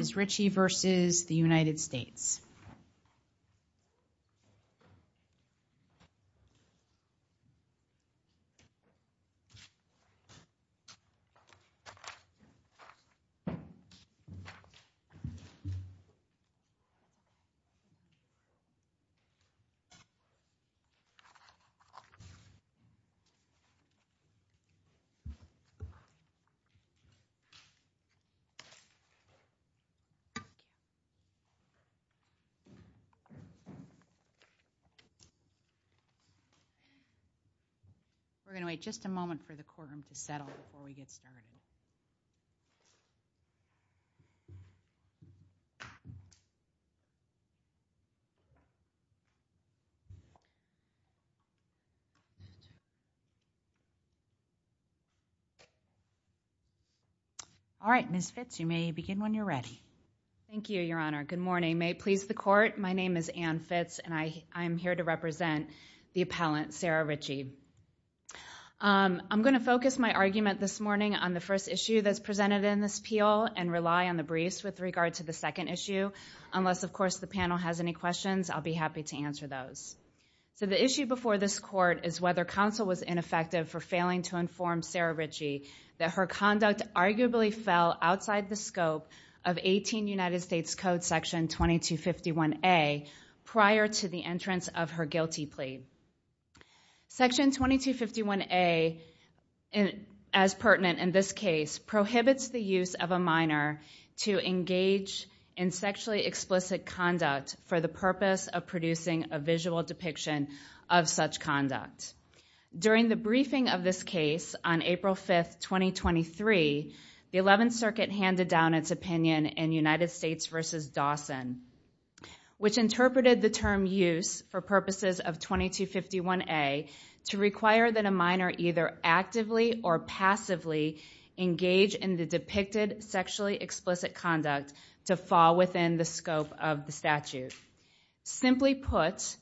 Richard Brown he's going to present the European Commission on We're going to wait just a moment for the quorum to settle before we get started. All right, Miss Fitz, you may begin when you're ready. Thank you, Your Honor. Good morning. May it please the court. My name is Anne Fitz, and I am here to represent the appellant, Sarah Ritchie. I'm going to focus my argument this morning on the first issue that's presented in this unless, of course, the panel has any questions, I'll be happy to answer those. So the issue before this court is whether counsel was ineffective for failing to inform Sarah Ritchie that her conduct arguably fell outside the scope of 18 United States Code Section 2251A prior to the entrance of her guilty plea. Section 2251A, as pertinent in this case, prohibits the use of a minor to engage in sexually explicit conduct for the purpose of producing a visual depiction of such conduct. During the briefing of this case on April 5th, 2023, the 11th Circuit handed down its Dawson, which interpreted the term use for purposes of 2251A to require that a minor either actively or passively engage in the depicted sexually explicit conduct to fall within the scope of the statute. Simply put,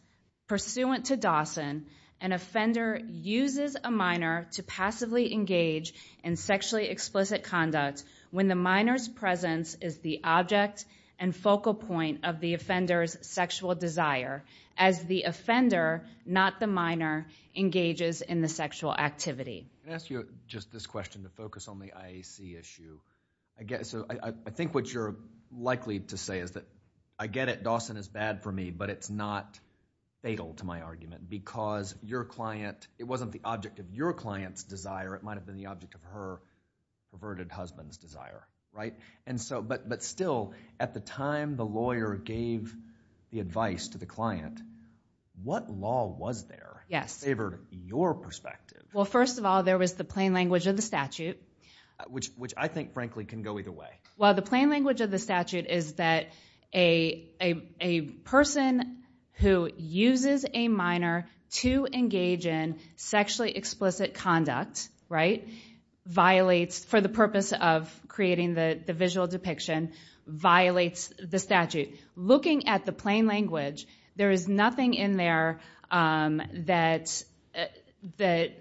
pursuant to Dawson, an offender uses a minor to passively engage in sexually explicit conduct. This is the focal point of the offender's sexual desire as the offender, not the minor, engages in the sexual activity. I'm going to ask you just this question to focus on the IAC issue. I think what you're likely to say is that, I get it, Dawson is bad for me, but it's not fatal to my argument because it wasn't the object of your client's desire, it might have been the object of her perverted husband's desire. But still, at the time the lawyer gave the advice to the client, what law was there that favored your perspective? Well, first of all, there was the plain language of the statute. Which I think, frankly, can go either way. Well, the plain language of the statute is that a person who uses a minor to engage in the visual depiction violates the statute. Looking at the plain language, there is nothing in there that the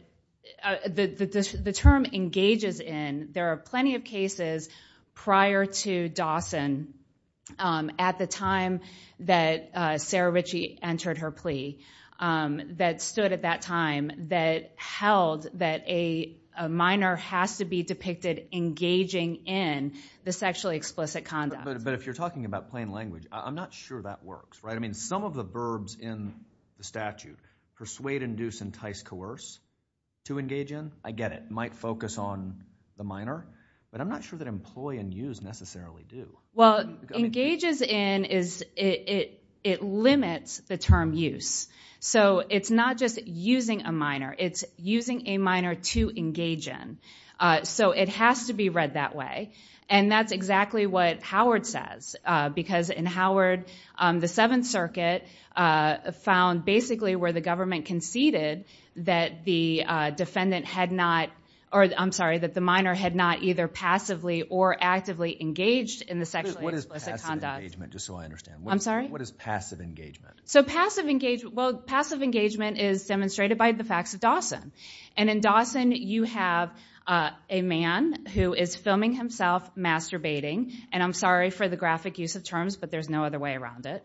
term engages in. There are plenty of cases prior to Dawson, at the time that Sarah Ritchie entered her in, the sexually explicit conduct. But if you're talking about plain language, I'm not sure that works. Some of the verbs in the statute, persuade, induce, entice, coerce, to engage in, I get it, might focus on the minor, but I'm not sure that employ and use necessarily do. Well, engages in, it limits the term use. It's not just using a minor, it's using a minor to engage in. It has to be read that way. That's exactly what Howard says, because in Howard, the Seventh Circuit found basically where the government conceded that the minor had not either passively or actively engaged in the sexually explicit conduct. What is passive engagement? Just so I understand. I'm sorry? Passive engagement is demonstrated by the facts of Dawson. In Dawson, you have a man who is filming himself masturbating, and I'm sorry for the graphic use of terms, but there's no other way around it.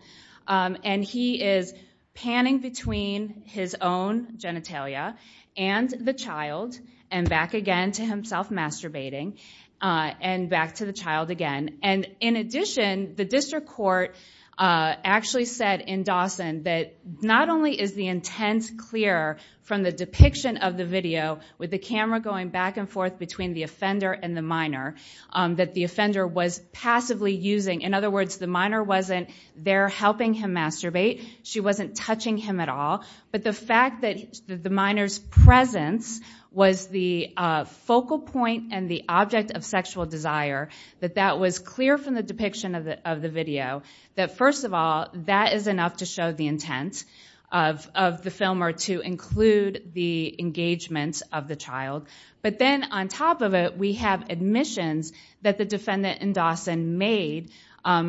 He is panning between his own genitalia and the child, and back again to himself masturbating, and back to the child again. In addition, the district court actually said in Dawson that not only is the intent clear from the depiction of the video, with the camera going back and forth between the offender and the minor, that the offender was passively using. In other words, the minor wasn't there helping him masturbate. She wasn't touching him at all, but the fact that the minor's presence was the focal point and the object of sexual desire, that that was clear from the depiction of the video, that first of all, that is enough to show the intent of the filmer to include the engagement of the child. But then on top of it, we have admissions that the defendant in Dawson made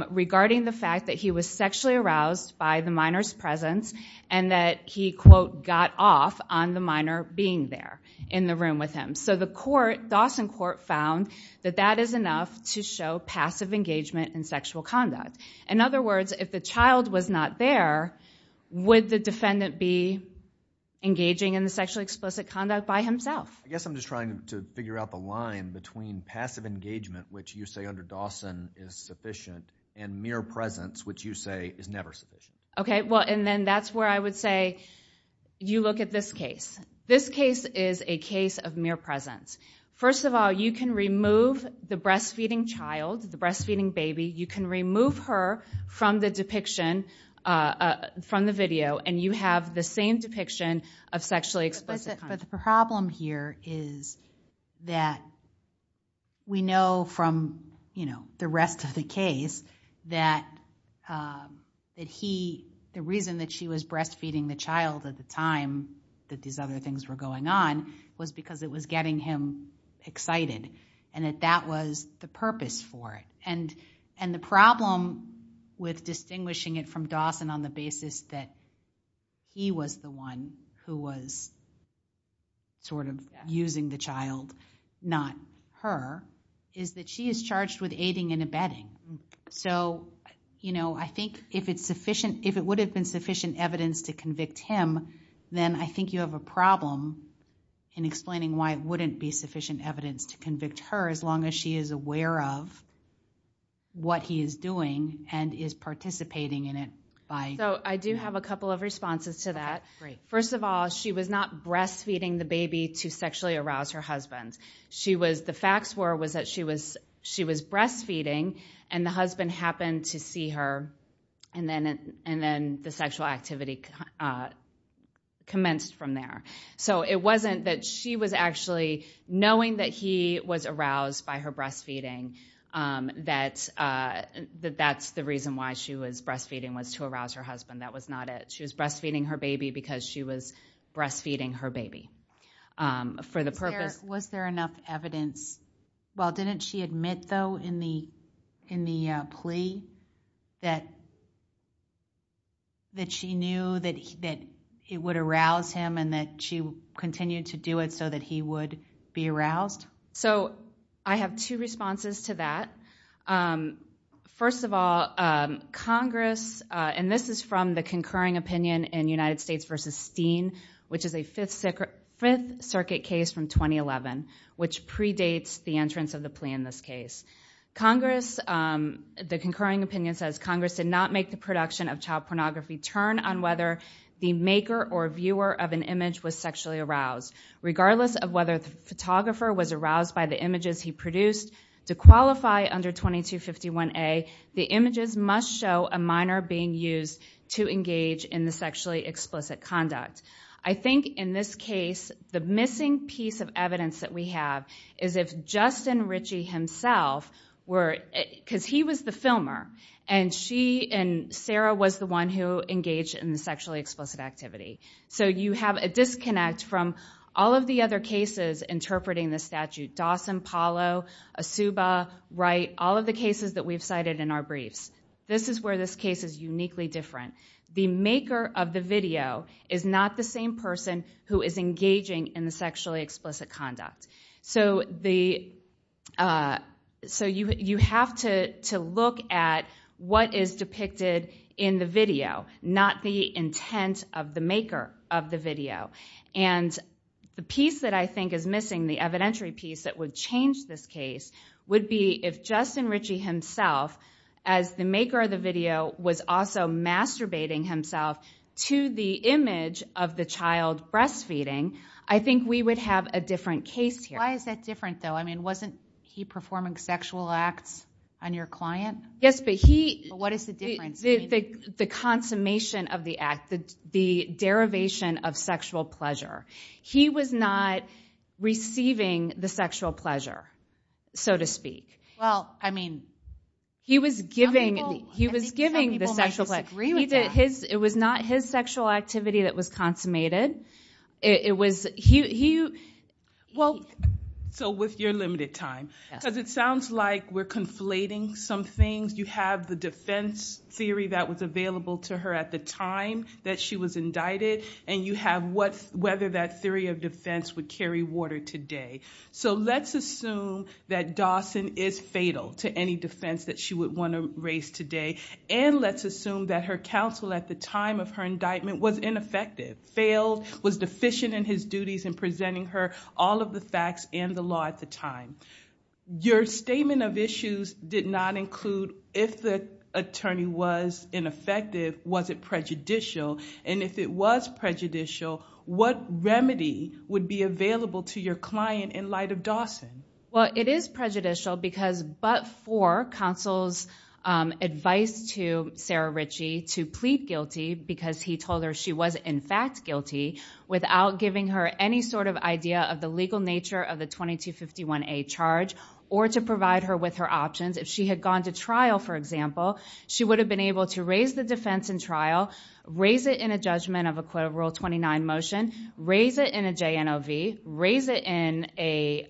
regarding the fact that he was sexually aroused by the minor's presence and that he, quote, got off on the minor being there in the room with him. So the court, Dawson court, found that that is enough to show passive engagement in sexual conduct. In other words, if the child was not there, would the defendant be engaging in the sexually explicit conduct by himself? I guess I'm just trying to figure out the line between passive engagement, which you say under Dawson is sufficient, and mere presence, which you say is never sufficient. Okay, well, and then that's where I would say, you look at this case. This case is a case of mere presence. First of all, you can remove the breastfeeding child, the breastfeeding baby. You can remove her from the depiction, from the video, and you have the same depiction of sexually explicit conduct. But the problem here is that we know from the rest of the case that he, the reason that she was breastfeeding the child at the time that these other things were going on was because it was getting him excited and that that was the purpose for it. The problem with distinguishing it from Dawson on the basis that he was the one who was sort of using the child, not her, is that she is charged with aiding and abetting. I think if it would have been sufficient evidence to convict him, then I think you have a problem in explaining why it wouldn't be sufficient evidence to convict her as long as she is aware of what he is doing and is participating in it by... So I do have a couple of responses to that. First of all, she was not breastfeeding the baby to sexually arouse her husband. She was, the facts were, was that she was breastfeeding and the husband happened to see her and then the sexual activity commenced from there. So it wasn't that she was actually knowing that he was aroused by her breastfeeding, that that's the reason why she was breastfeeding was to arouse her husband. That was not it. She was breastfeeding her baby because she was breastfeeding her baby. For the purpose... Was there enough evidence? Well, didn't she admit, though, in the plea that she knew that it would arouse him and that she continued to do it so that he would be aroused? So I have two responses to that. First of all, Congress, and this is from the concurring opinion in United States v. Steen, which is a Fifth Circuit case from 2011, which predates the entrance of the plea in this case. Congress, the concurring opinion says, Congress did not make the production of child pornography turn on whether the maker or viewer of an image was sexually aroused. Regardless of whether the photographer was aroused by the images he produced, to qualify under 2251A, the images must show a minor being used to engage in the sexually explicit conduct. I think in this case, the missing piece of evidence that we have is if Justin Ritchie himself, because he was the filmer, and she and Sarah was the one who engaged in the sexually explicit activity. So you have a disconnect from all of the other cases interpreting the statute, Dawson, Paulo, Asooba, Wright, all of the cases that we've cited in our briefs. This is where this case is uniquely different. The maker of the video is not the same person who is engaging in the sexually explicit conduct. So you have to look at what is depicted in the video, not the intent of the maker of the video. And the piece that I think is missing, the evidentiary piece that would change this case would be if Justin Ritchie himself, as the maker of the video, was also masturbating himself to the image of the child breastfeeding, I think we would have a different case here. Why is that different, though? I mean, wasn't he performing sexual acts on your client? Yes, but he... But what is the difference? The consummation of the act, the derivation of sexual pleasure. He was not receiving the sexual pleasure, so to speak. Well, I mean... He was giving... Some people might disagree with that. It was not his sexual activity that was consummated. It was... He... Well... So with your limited time, because it sounds like we're conflating some things. You have the defense theory that was available to her at the time that she was indicted, and you have whether that theory of defense would carry water today. So let's assume that Dawson is fatal to any defense that she would want to raise today, and let's assume that her counsel at the time of her indictment was ineffective, failed, was deficient in his duties in presenting her all of the facts and the law at the time. Your statement of issues did not include if the attorney was ineffective, was it prejudicial, and if it was prejudicial, what remedy would be available to your client in light of Dawson? Well, it is prejudicial because but for counsel's advice to Sarah Ritchie to plead guilty because he told her she was in fact guilty without giving her any sort of idea of the legal nature of the 2251A charge or to provide her with her options. If she had gone to trial, for example, she would have been able to raise the defense in trial, raise it in a judgment of Equivalent Rule 29 motion, raise it in a JNLV, raise it in a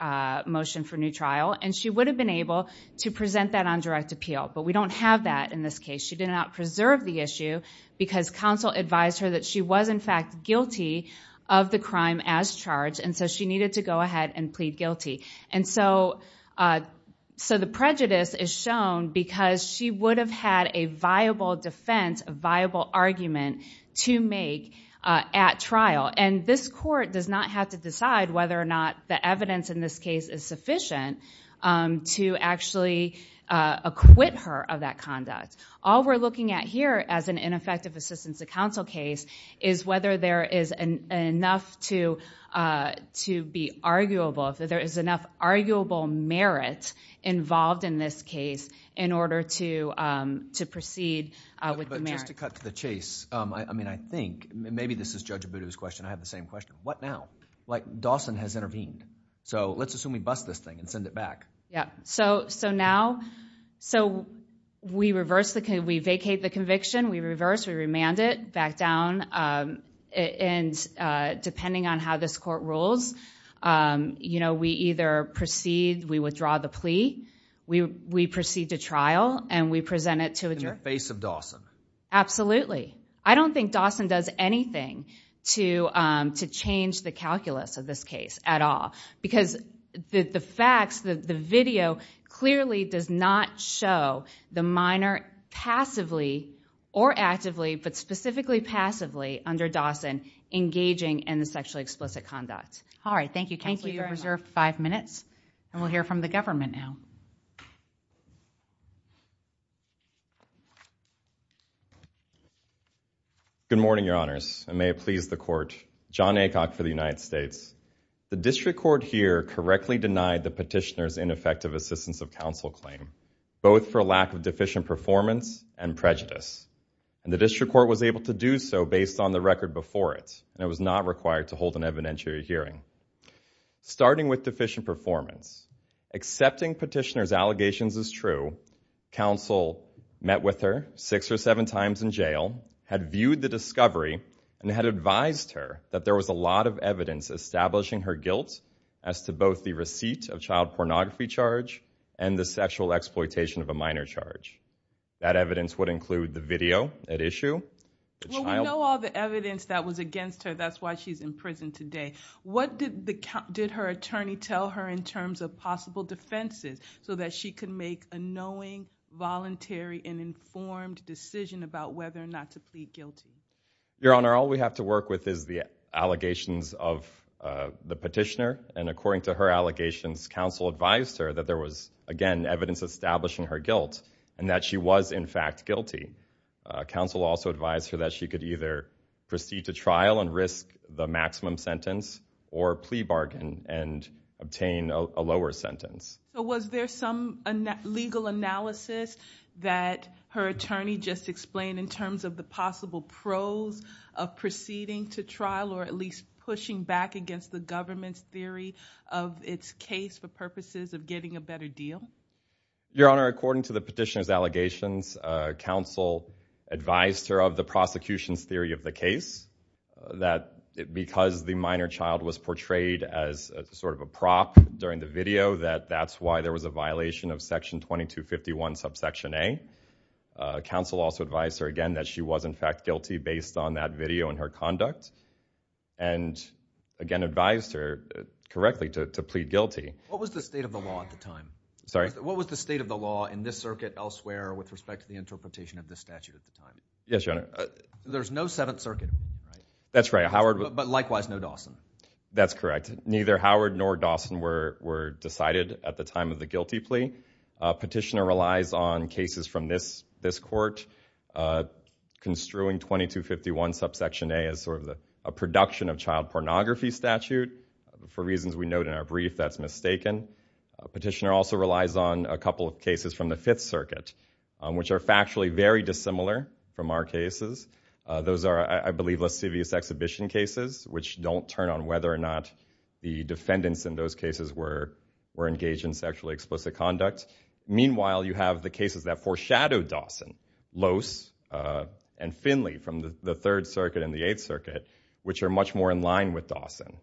motion for new trial, and she would have been able to present that on direct appeal. But we don't have that in this case. She did not preserve the issue because counsel advised her that she was in fact guilty of the crime as charged, and so she needed to go ahead and plead guilty. And so the prejudice is shown because she would have had a viable defense, a viable argument to make at trial. And this court does not have to decide whether or not the evidence in this case is sufficient to actually acquit her of that conduct. All we're looking at here as an ineffective assistance to counsel case is whether there is enough to be arguable, if there is enough arguable merit involved in this case in order to proceed with the merit. Just to cut to the chase, I mean, I think, maybe this is Judge Abudu's question, I have the same question. What now? Like, Dawson has intervened. So let's assume we bust this thing and send it back. Yeah. So now, so we reverse the, we vacate the conviction, we reverse, we remand it, back down, and depending on how this court rules, you know, we either proceed, we withdraw the plea, we proceed to trial, and we present it to a jury. In the face of Dawson. Absolutely. I don't think Dawson does anything to change the calculus of this case at all. Because the facts, the video clearly does not show the minor passively or actively, but specifically passively under Dawson engaging in the sexually explicit conduct. All right. Thank you, counsel. You have reserved five minutes. And we'll hear from the government now. Good morning, Your Honors, and may it please the Court. John Aycock for the United States. The district court here correctly denied the petitioner's ineffective assistance of counsel claim, both for lack of deficient performance and prejudice. And the district court was able to do so based on the record before it, and it was not required to hold an evidentiary hearing. Starting with deficient performance, accepting petitioner's allegations as true, counsel met with her six or seven times in jail, had viewed the discovery, and had advised her that there was a lot of evidence establishing her guilt as to both the receipt of child pornography charge and the sexual exploitation of a minor charge. That evidence would include the video at issue, the child... Well, we know all the evidence that was against her. That's why she's in prison today. What did her attorney tell her in terms of possible defenses so that she could make a knowing, voluntary, and informed decision about whether or not to plead guilty? Your Honor, all we have to work with is the allegations of the petitioner. And according to her allegations, counsel advised her that there was, again, evidence establishing her guilt, and that she was, in fact, guilty. Counsel also advised her that she could either proceed to trial and risk the maximum sentence or plea bargain and obtain a lower sentence. Was there some legal analysis that her attorney just explained in terms of the possible pros of proceeding to trial or at least pushing back against the government's theory of its case for purposes of getting a better deal? Your Honor, according to the petitioner's allegations, counsel advised her of the prosecution's theory of the case, that because the minor child was portrayed as sort of a prop during the video, that that's why there was a violation of Section 2251, Subsection A. Counsel also advised her, again, that she was, in fact, guilty based on that video and her conduct, and, again, advised her correctly to plead guilty. What was the state of the law at the time? Sorry? What was the state of the law in this circuit elsewhere with respect to the interpretation of this statute at the time? Yes, Your Honor. There's no Seventh Circuit, right? That's right. But likewise, no Dawson. That's correct. Neither Howard nor Dawson were decided at the time of the guilty plea. Petitioner relies on cases from this court construing 2251, Subsection A, as sort of a production of child pornography statute. For reasons we note in our brief, that's mistaken. Petitioner also relies on a couple of cases from the Fifth Circuit, which are factually very dissimilar from our cases. Those are, I believe, lascivious exhibition cases, which don't turn on whether or not the defendants in those cases were engaged in sexually explicit conduct. Meanwhile, you have the cases that foreshadow Dawson, Loess, and Finley from the Third Circuit and the Eighth Circuit, which are much more in line with Dawson.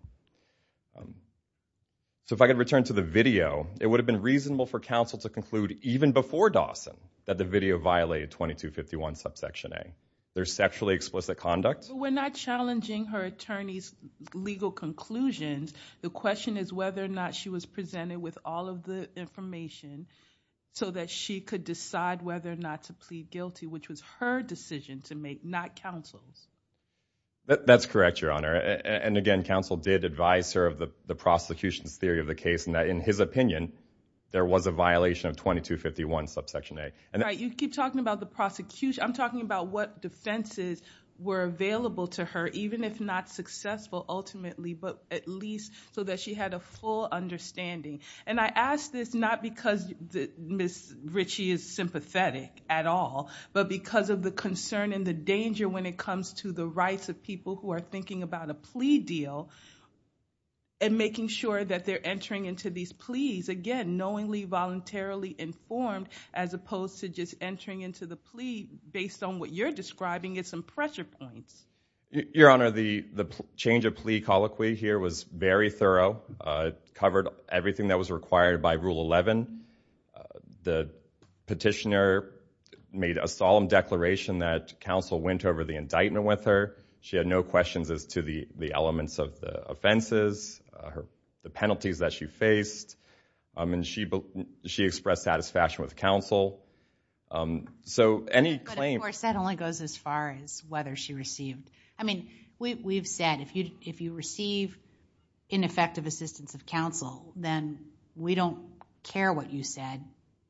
So if I could return to the video, it would have been reasonable for counsel to conclude even before Dawson that the video violated 2251, Subsection A. There's sexually explicit conduct. We're not challenging her attorney's legal conclusions. The question is whether or not she was presented with all of the information so that she could decide whether or not to plead guilty, which was her decision to make, not counsel's. That's correct, Your Honor. And again, counsel did advise her of the prosecution's theory of the case, and that in his opinion, there was a violation of 2251, Subsection A. All right, you keep talking about the prosecution. I'm talking about what defenses were available to her, even if not successful, ultimately, but at least so that she had a full understanding. And I ask this not because Ms. Ritchie is sympathetic at all, but because of the concern and the danger when it comes to the rights of people who are thinking about a plea deal and making sure that they're entering into these pleas, again, knowingly, voluntarily informed as opposed to just entering into the plea based on what you're describing as some pressure points. Your Honor, the change of plea colloquy here was very thorough. It covered everything that was required by Rule 11. The petitioner made a solemn declaration that counsel went over the indictment with her. She had no questions as to the elements of the offenses, the penalties that she faced. She expressed satisfaction with counsel. So any claim... But of course, that only goes as far as whether she received... I mean, we've said, if you receive ineffective assistance of counsel, then we don't care what you said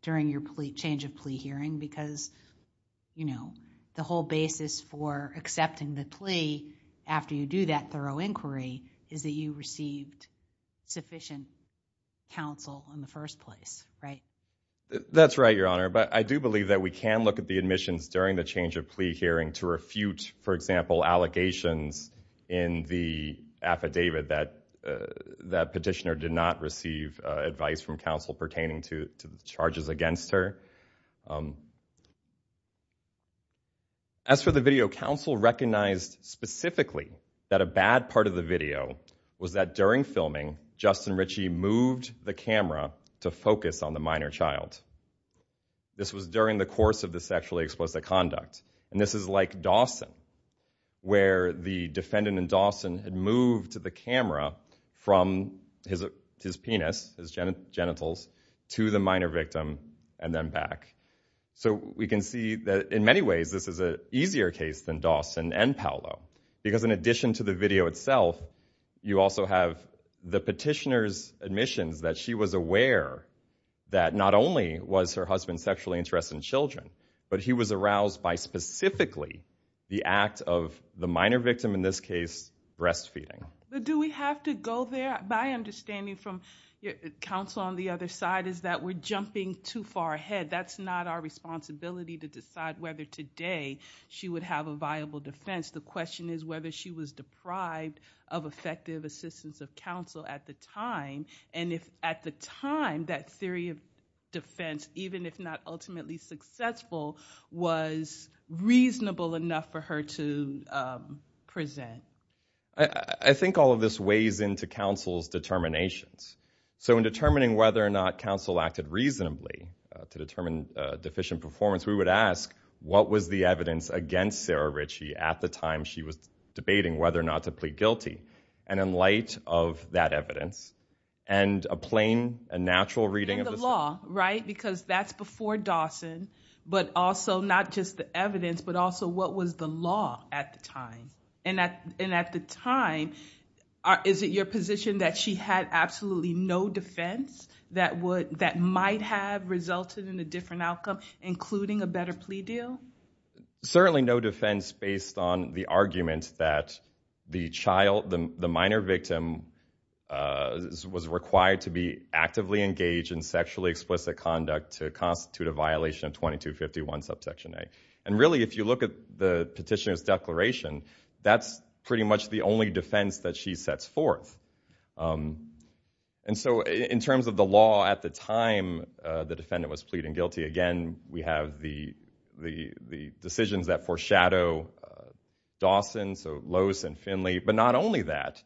during your change of plea hearing because the whole basis for accepting the plea after you do that thorough inquiry is that you received sufficient counsel in the first place, right? That's right, Your Honor, but I do believe that we can look at the admissions during the change of plea hearing to refute, for example, allegations in the affidavit that petitioner did not receive advice from counsel pertaining to charges against her. As for the video, counsel recognized specifically that a bad part of the video was that during filming Justin Ritchie moved the camera to focus on the minor child. This was during the course of the sexually explicit conduct, and this is like Dawson, where the defendant in Dawson had moved the camera from his penis, his genitals, to the minor victim and then back. So we can see that in many ways this is an easier case than Dawson and Paolo because in addition to the video itself, you also have the petitioner's admissions that she was aware that not only was her husband sexually interested in children, but he was aroused by specifically the act of the minor victim, in this case, breastfeeding. Do we have to go there? My understanding from counsel on the other side is that we're jumping too far ahead. That's not our responsibility to decide whether today she would have a viable defense. The question is whether she was deprived of effective assistance of counsel at the time, and if at the time that theory of defense, even if not ultimately successful, was reasonable enough for her to present. I think all of this weighs into counsel's determinations. So in determining whether or not counsel acted reasonably to determine deficient performance, we would ask what was the evidence against Sarah Ritchie at the time she was debating whether or not to plead guilty. And in light of that evidence, and a plain, a natural reading of the- And the law, right? Because that's before Dawson, but also not just the evidence, but also what was the law at the time. And at the time, is it your position that she had absolutely no defense that might have resulted in a different outcome, including a better plea deal? Certainly no defense based on the argument that the minor victim was required to be actively engaged in sexually explicit conduct to constitute a violation of 2251 subsection A. And really, if you look at the petitioner's declaration, that's pretty much the only defense that she sets forth. And so in terms of the law at the time the defendant was pleading guilty, again, we have the decisions that foreshadow Dawson, so Lowe's and Finley, but not only that.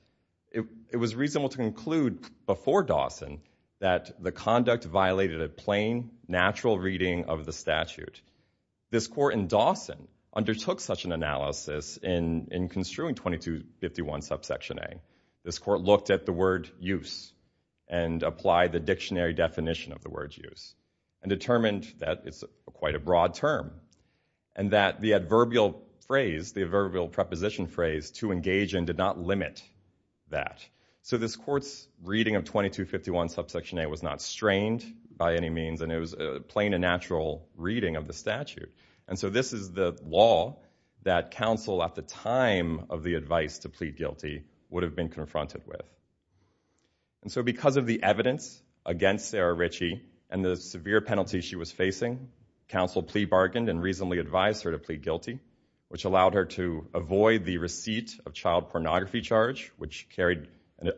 It was reasonable to conclude before Dawson that the conduct violated a plain, natural reading of the statute. This court in Dawson undertook such an analysis in construing 2251 subsection A. This court looked at the word use and applied the dictionary definition of the word use and determined that it's quite a broad term and that the adverbial phrase, the adverbial preposition phrase, to engage in did not limit that. So this court's reading of 2251 subsection A was not strained by any means and it was a plain and natural reading of the statute. And so this is the law that counsel at the time of the advice to plead guilty would have been confronted with. And so because of the evidence against Sarah Ritchie and the severe penalty she was facing, counsel plea bargained and reasonably advised her to plead guilty, which allowed her to avoid the receipt of child pornography charge, which carried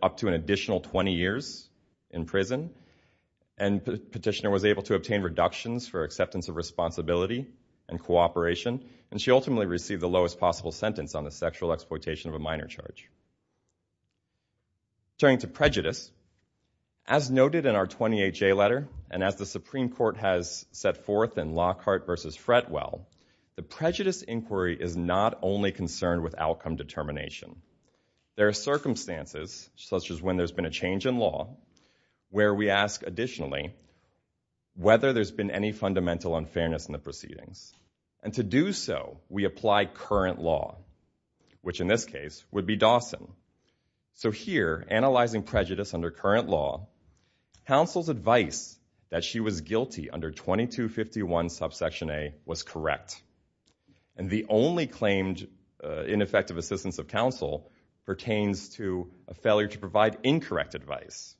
up to an additional 20 years in prison. And the petitioner was able to obtain reductions for acceptance of responsibility and cooperation and she ultimately received the lowest possible sentence on the sexual exploitation of a minor charge. Turning to prejudice, as noted in our 28-J letter and as the Supreme Court has set forth in Lockhart v. Fretwell, the prejudice inquiry is not only concerned with outcome determination. There are circumstances, such as when there's been a change in law, where we ask additionally whether there's been any fundamental unfairness in the proceedings. And to do so, we apply current law, which in this case would be Dawson. So here, analyzing prejudice under current law, counsel's advice that she was guilty under 2251 subsection A was correct. And the only claimed ineffective assistance of counsel pertains to a failure to provide incorrect advice.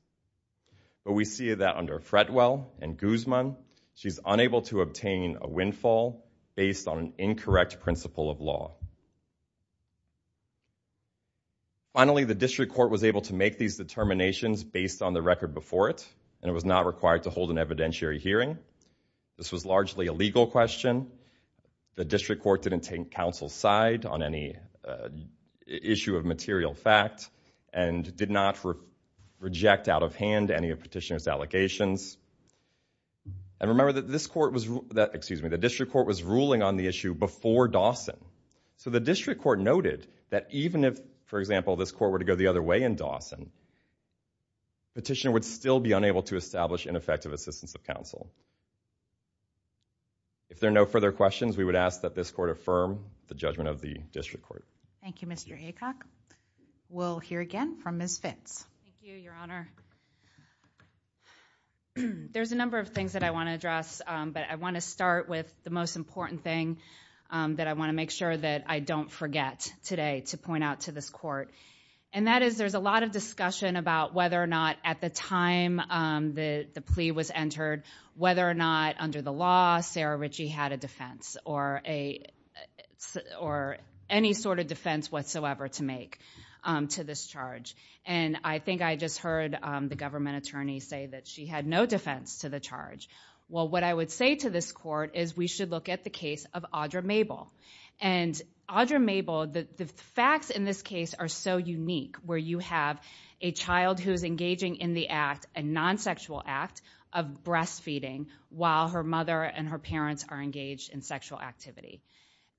But we see that under Fretwell and Guzman, she's unable to obtain a windfall based on an incorrect principle of law. Finally, the district court was able to make these determinations based on the record before it and it was not required to hold an evidentiary hearing. This was largely a legal question. The district court didn't take counsel's side on any issue of material fact and did not reject out of hand any of Petitioner's allegations. And remember that this court was, excuse me, the district court was ruling on the issue before Dawson. So the district court noted that even if, for example, this court were to go the other way in Dawson, Petitioner would still be unable to establish ineffective assistance of counsel. If there are no further questions, we would ask that this court affirm the judgment of the district court. Thank you, Mr. Aycock. We'll hear again from Ms. Fitts. Thank you, Your Honor. There's a number of things that I want to address, but I want to start with the most important thing that I want to make sure that I don't forget today to point out to this court. And that is there's a lot of discussion about whether or not at the time the plea was entered whether or not under the law Sarah Ritchie had a defense or any sort of defense whatsoever to make to this charge. And I think I just heard the government attorney say that she had no defense to the charge. Well, what I would say to this court is we should look at the case of Audra Mabel. And Audra Mabel, the facts in this case are so unique where you have a child who's engaging in the act, a non-sexual act of breastfeeding while her mother and her parents are engaged in sexual activity.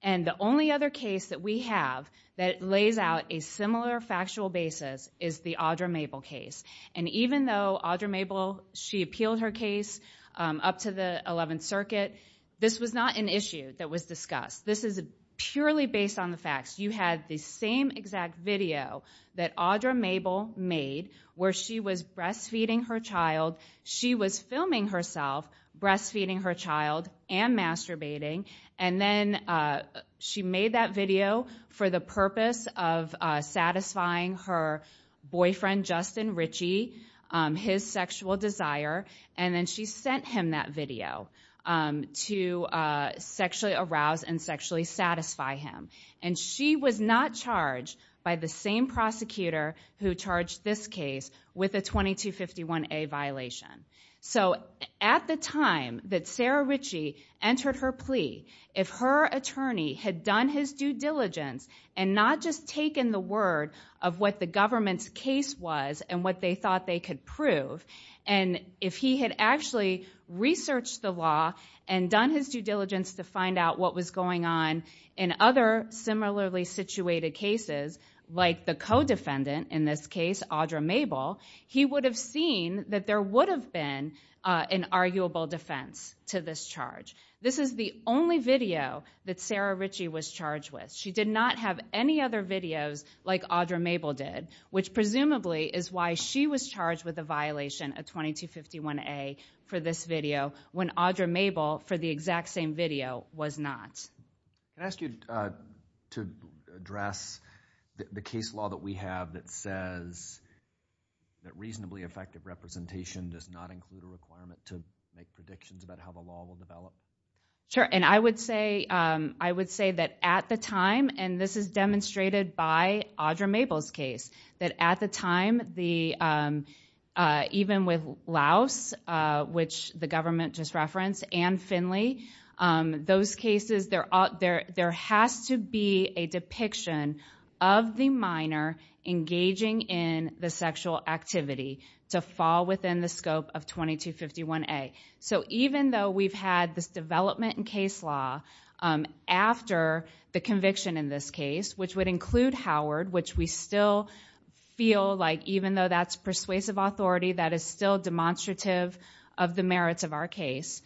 And the only other case that we have that lays out a similar factual basis is the Audra Mabel case. And even though Audra Mabel, she appealed her case up to the 11th Circuit, this was not an issue that was discussed. This is purely based on the facts. You had the same exact video that Audra Mabel made where she was breastfeeding her child. She was filming herself breastfeeding her child and masturbating. And then she made that video for the purpose of satisfying her boyfriend, Justin Ritchie, his sexual desire. And then she sent him that video to sexually arouse and sexually satisfy him. And she was not charged by the same prosecutor who charged this case with a 2251A violation. So at the time that Sarah Ritchie entered her plea, if her attorney had done his due diligence and not just taken the word of what the government's case was and what they thought they could prove, and if he had actually researched the law and done his due diligence to find out what was going on in other similarly situated cases, like the co-defendant in this case, Audra Mabel, he would have seen that there would have been an arguable defense to this charge. This is the only video that Sarah Ritchie was charged with. She did not have any other videos like Audra Mabel did, which presumably is why she was charged with a violation, a 2251A, for this video when Audra Mabel, for the exact same video, was not. Can I ask you to address the case law that we have that says that reasonably effective representation does not include a requirement to make predictions about how the law will develop? Sure. And I would say that at the time, and this is demonstrated by Audra Mabel's case, that at the time, even with Laos, which the government just referenced, and Finley, those cases, there has to be a depiction of the minor engaging in the sexual activity to fall within the scope of 2251A. So even though we've had this development in case law after the conviction in this case, which would include Howard, which we still feel like even though that's persuasive authority, that is still demonstrative of the merits of our case,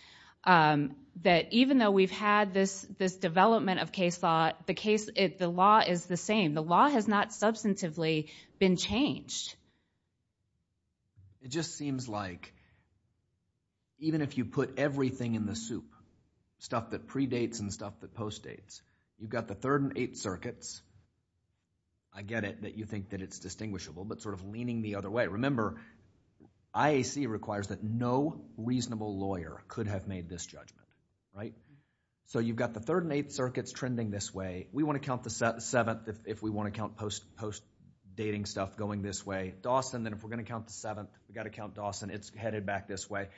that even though we've had this development of case law, the law is the same. The law has not substantively been changed. It just seems like even if you put everything in the soup, stuff that predates and stuff that postdates, you've got the third and eighth circuits, I get it that you think that it's distinguishable, but sort of leaning the other way. Remember, IAC requires that no reasonable lawyer could have made this judgment, right? So you've got the third and eighth circuits trending this way. We want to count the seventh if we want to count postdating stuff going this way. Dawson, then if we're going to count the seventh, we've got to count Dawson. It's headed back this way.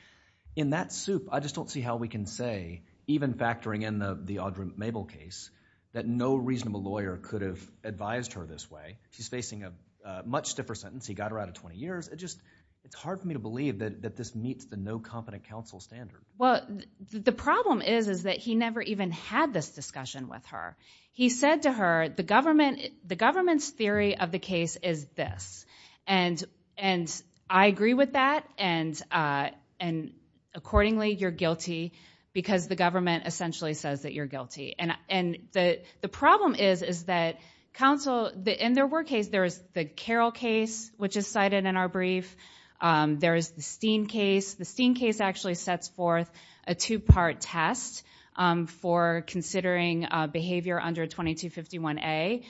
In that soup, I just don't see how we can say, even factoring in the Audra Mabel case, that no reasonable lawyer could have advised her this way. She's facing a much stiffer sentence. He got her out of 20 years. It's hard for me to believe that this meets the no competent counsel standard. The problem is that he never even had this discussion with her. He said to her, the government's theory of the case is this. And I agree with that. And accordingly, you're guilty, because the government essentially says that you're guilty. And the problem is, is that counsel, in their work case, there is the Carroll case, which is cited in our brief, there is the Steen case. The Steen case actually sets forth a two-part test for considering behavior under 2251A.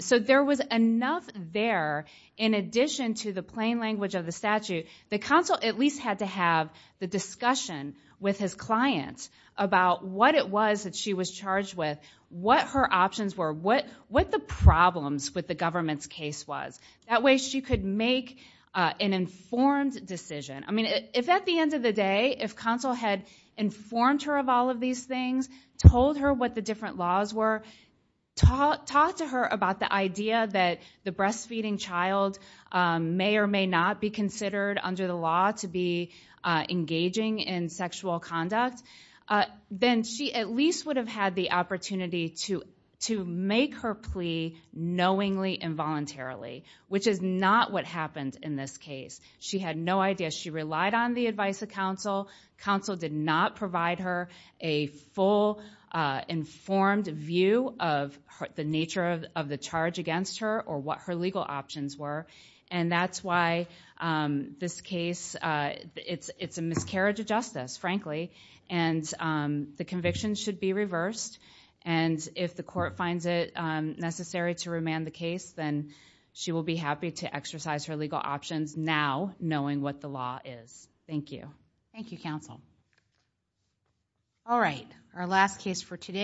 So there was enough there, in addition to the plain language of the statute, that counsel at least had to have the discussion with his clients about what it was that she was charged with, what her options were, what the problems with the government's case was. That way she could make an informed decision. I mean, if at the end of the day, if counsel had informed her of all of these things, told her what the different laws were, talked to her about the idea that the breastfeeding child may or may not be considered under the law to be engaging in sexual conduct, then she at least would have had the opportunity to make her plea knowingly and voluntarily, which is not what happened in this case. She had no idea. She relied on the advice of counsel. Counsel did not provide her a full, informed view of the nature of the charge against her or what her legal options were. And that's why this case, it's a miscarriage of justice, frankly. And the conviction should be reversed. And if the court finds it necessary to remand the case, then she will be happy to exercise her legal options now, knowing what the law is. Thank you. Thank you, counsel. All right, our last case for today.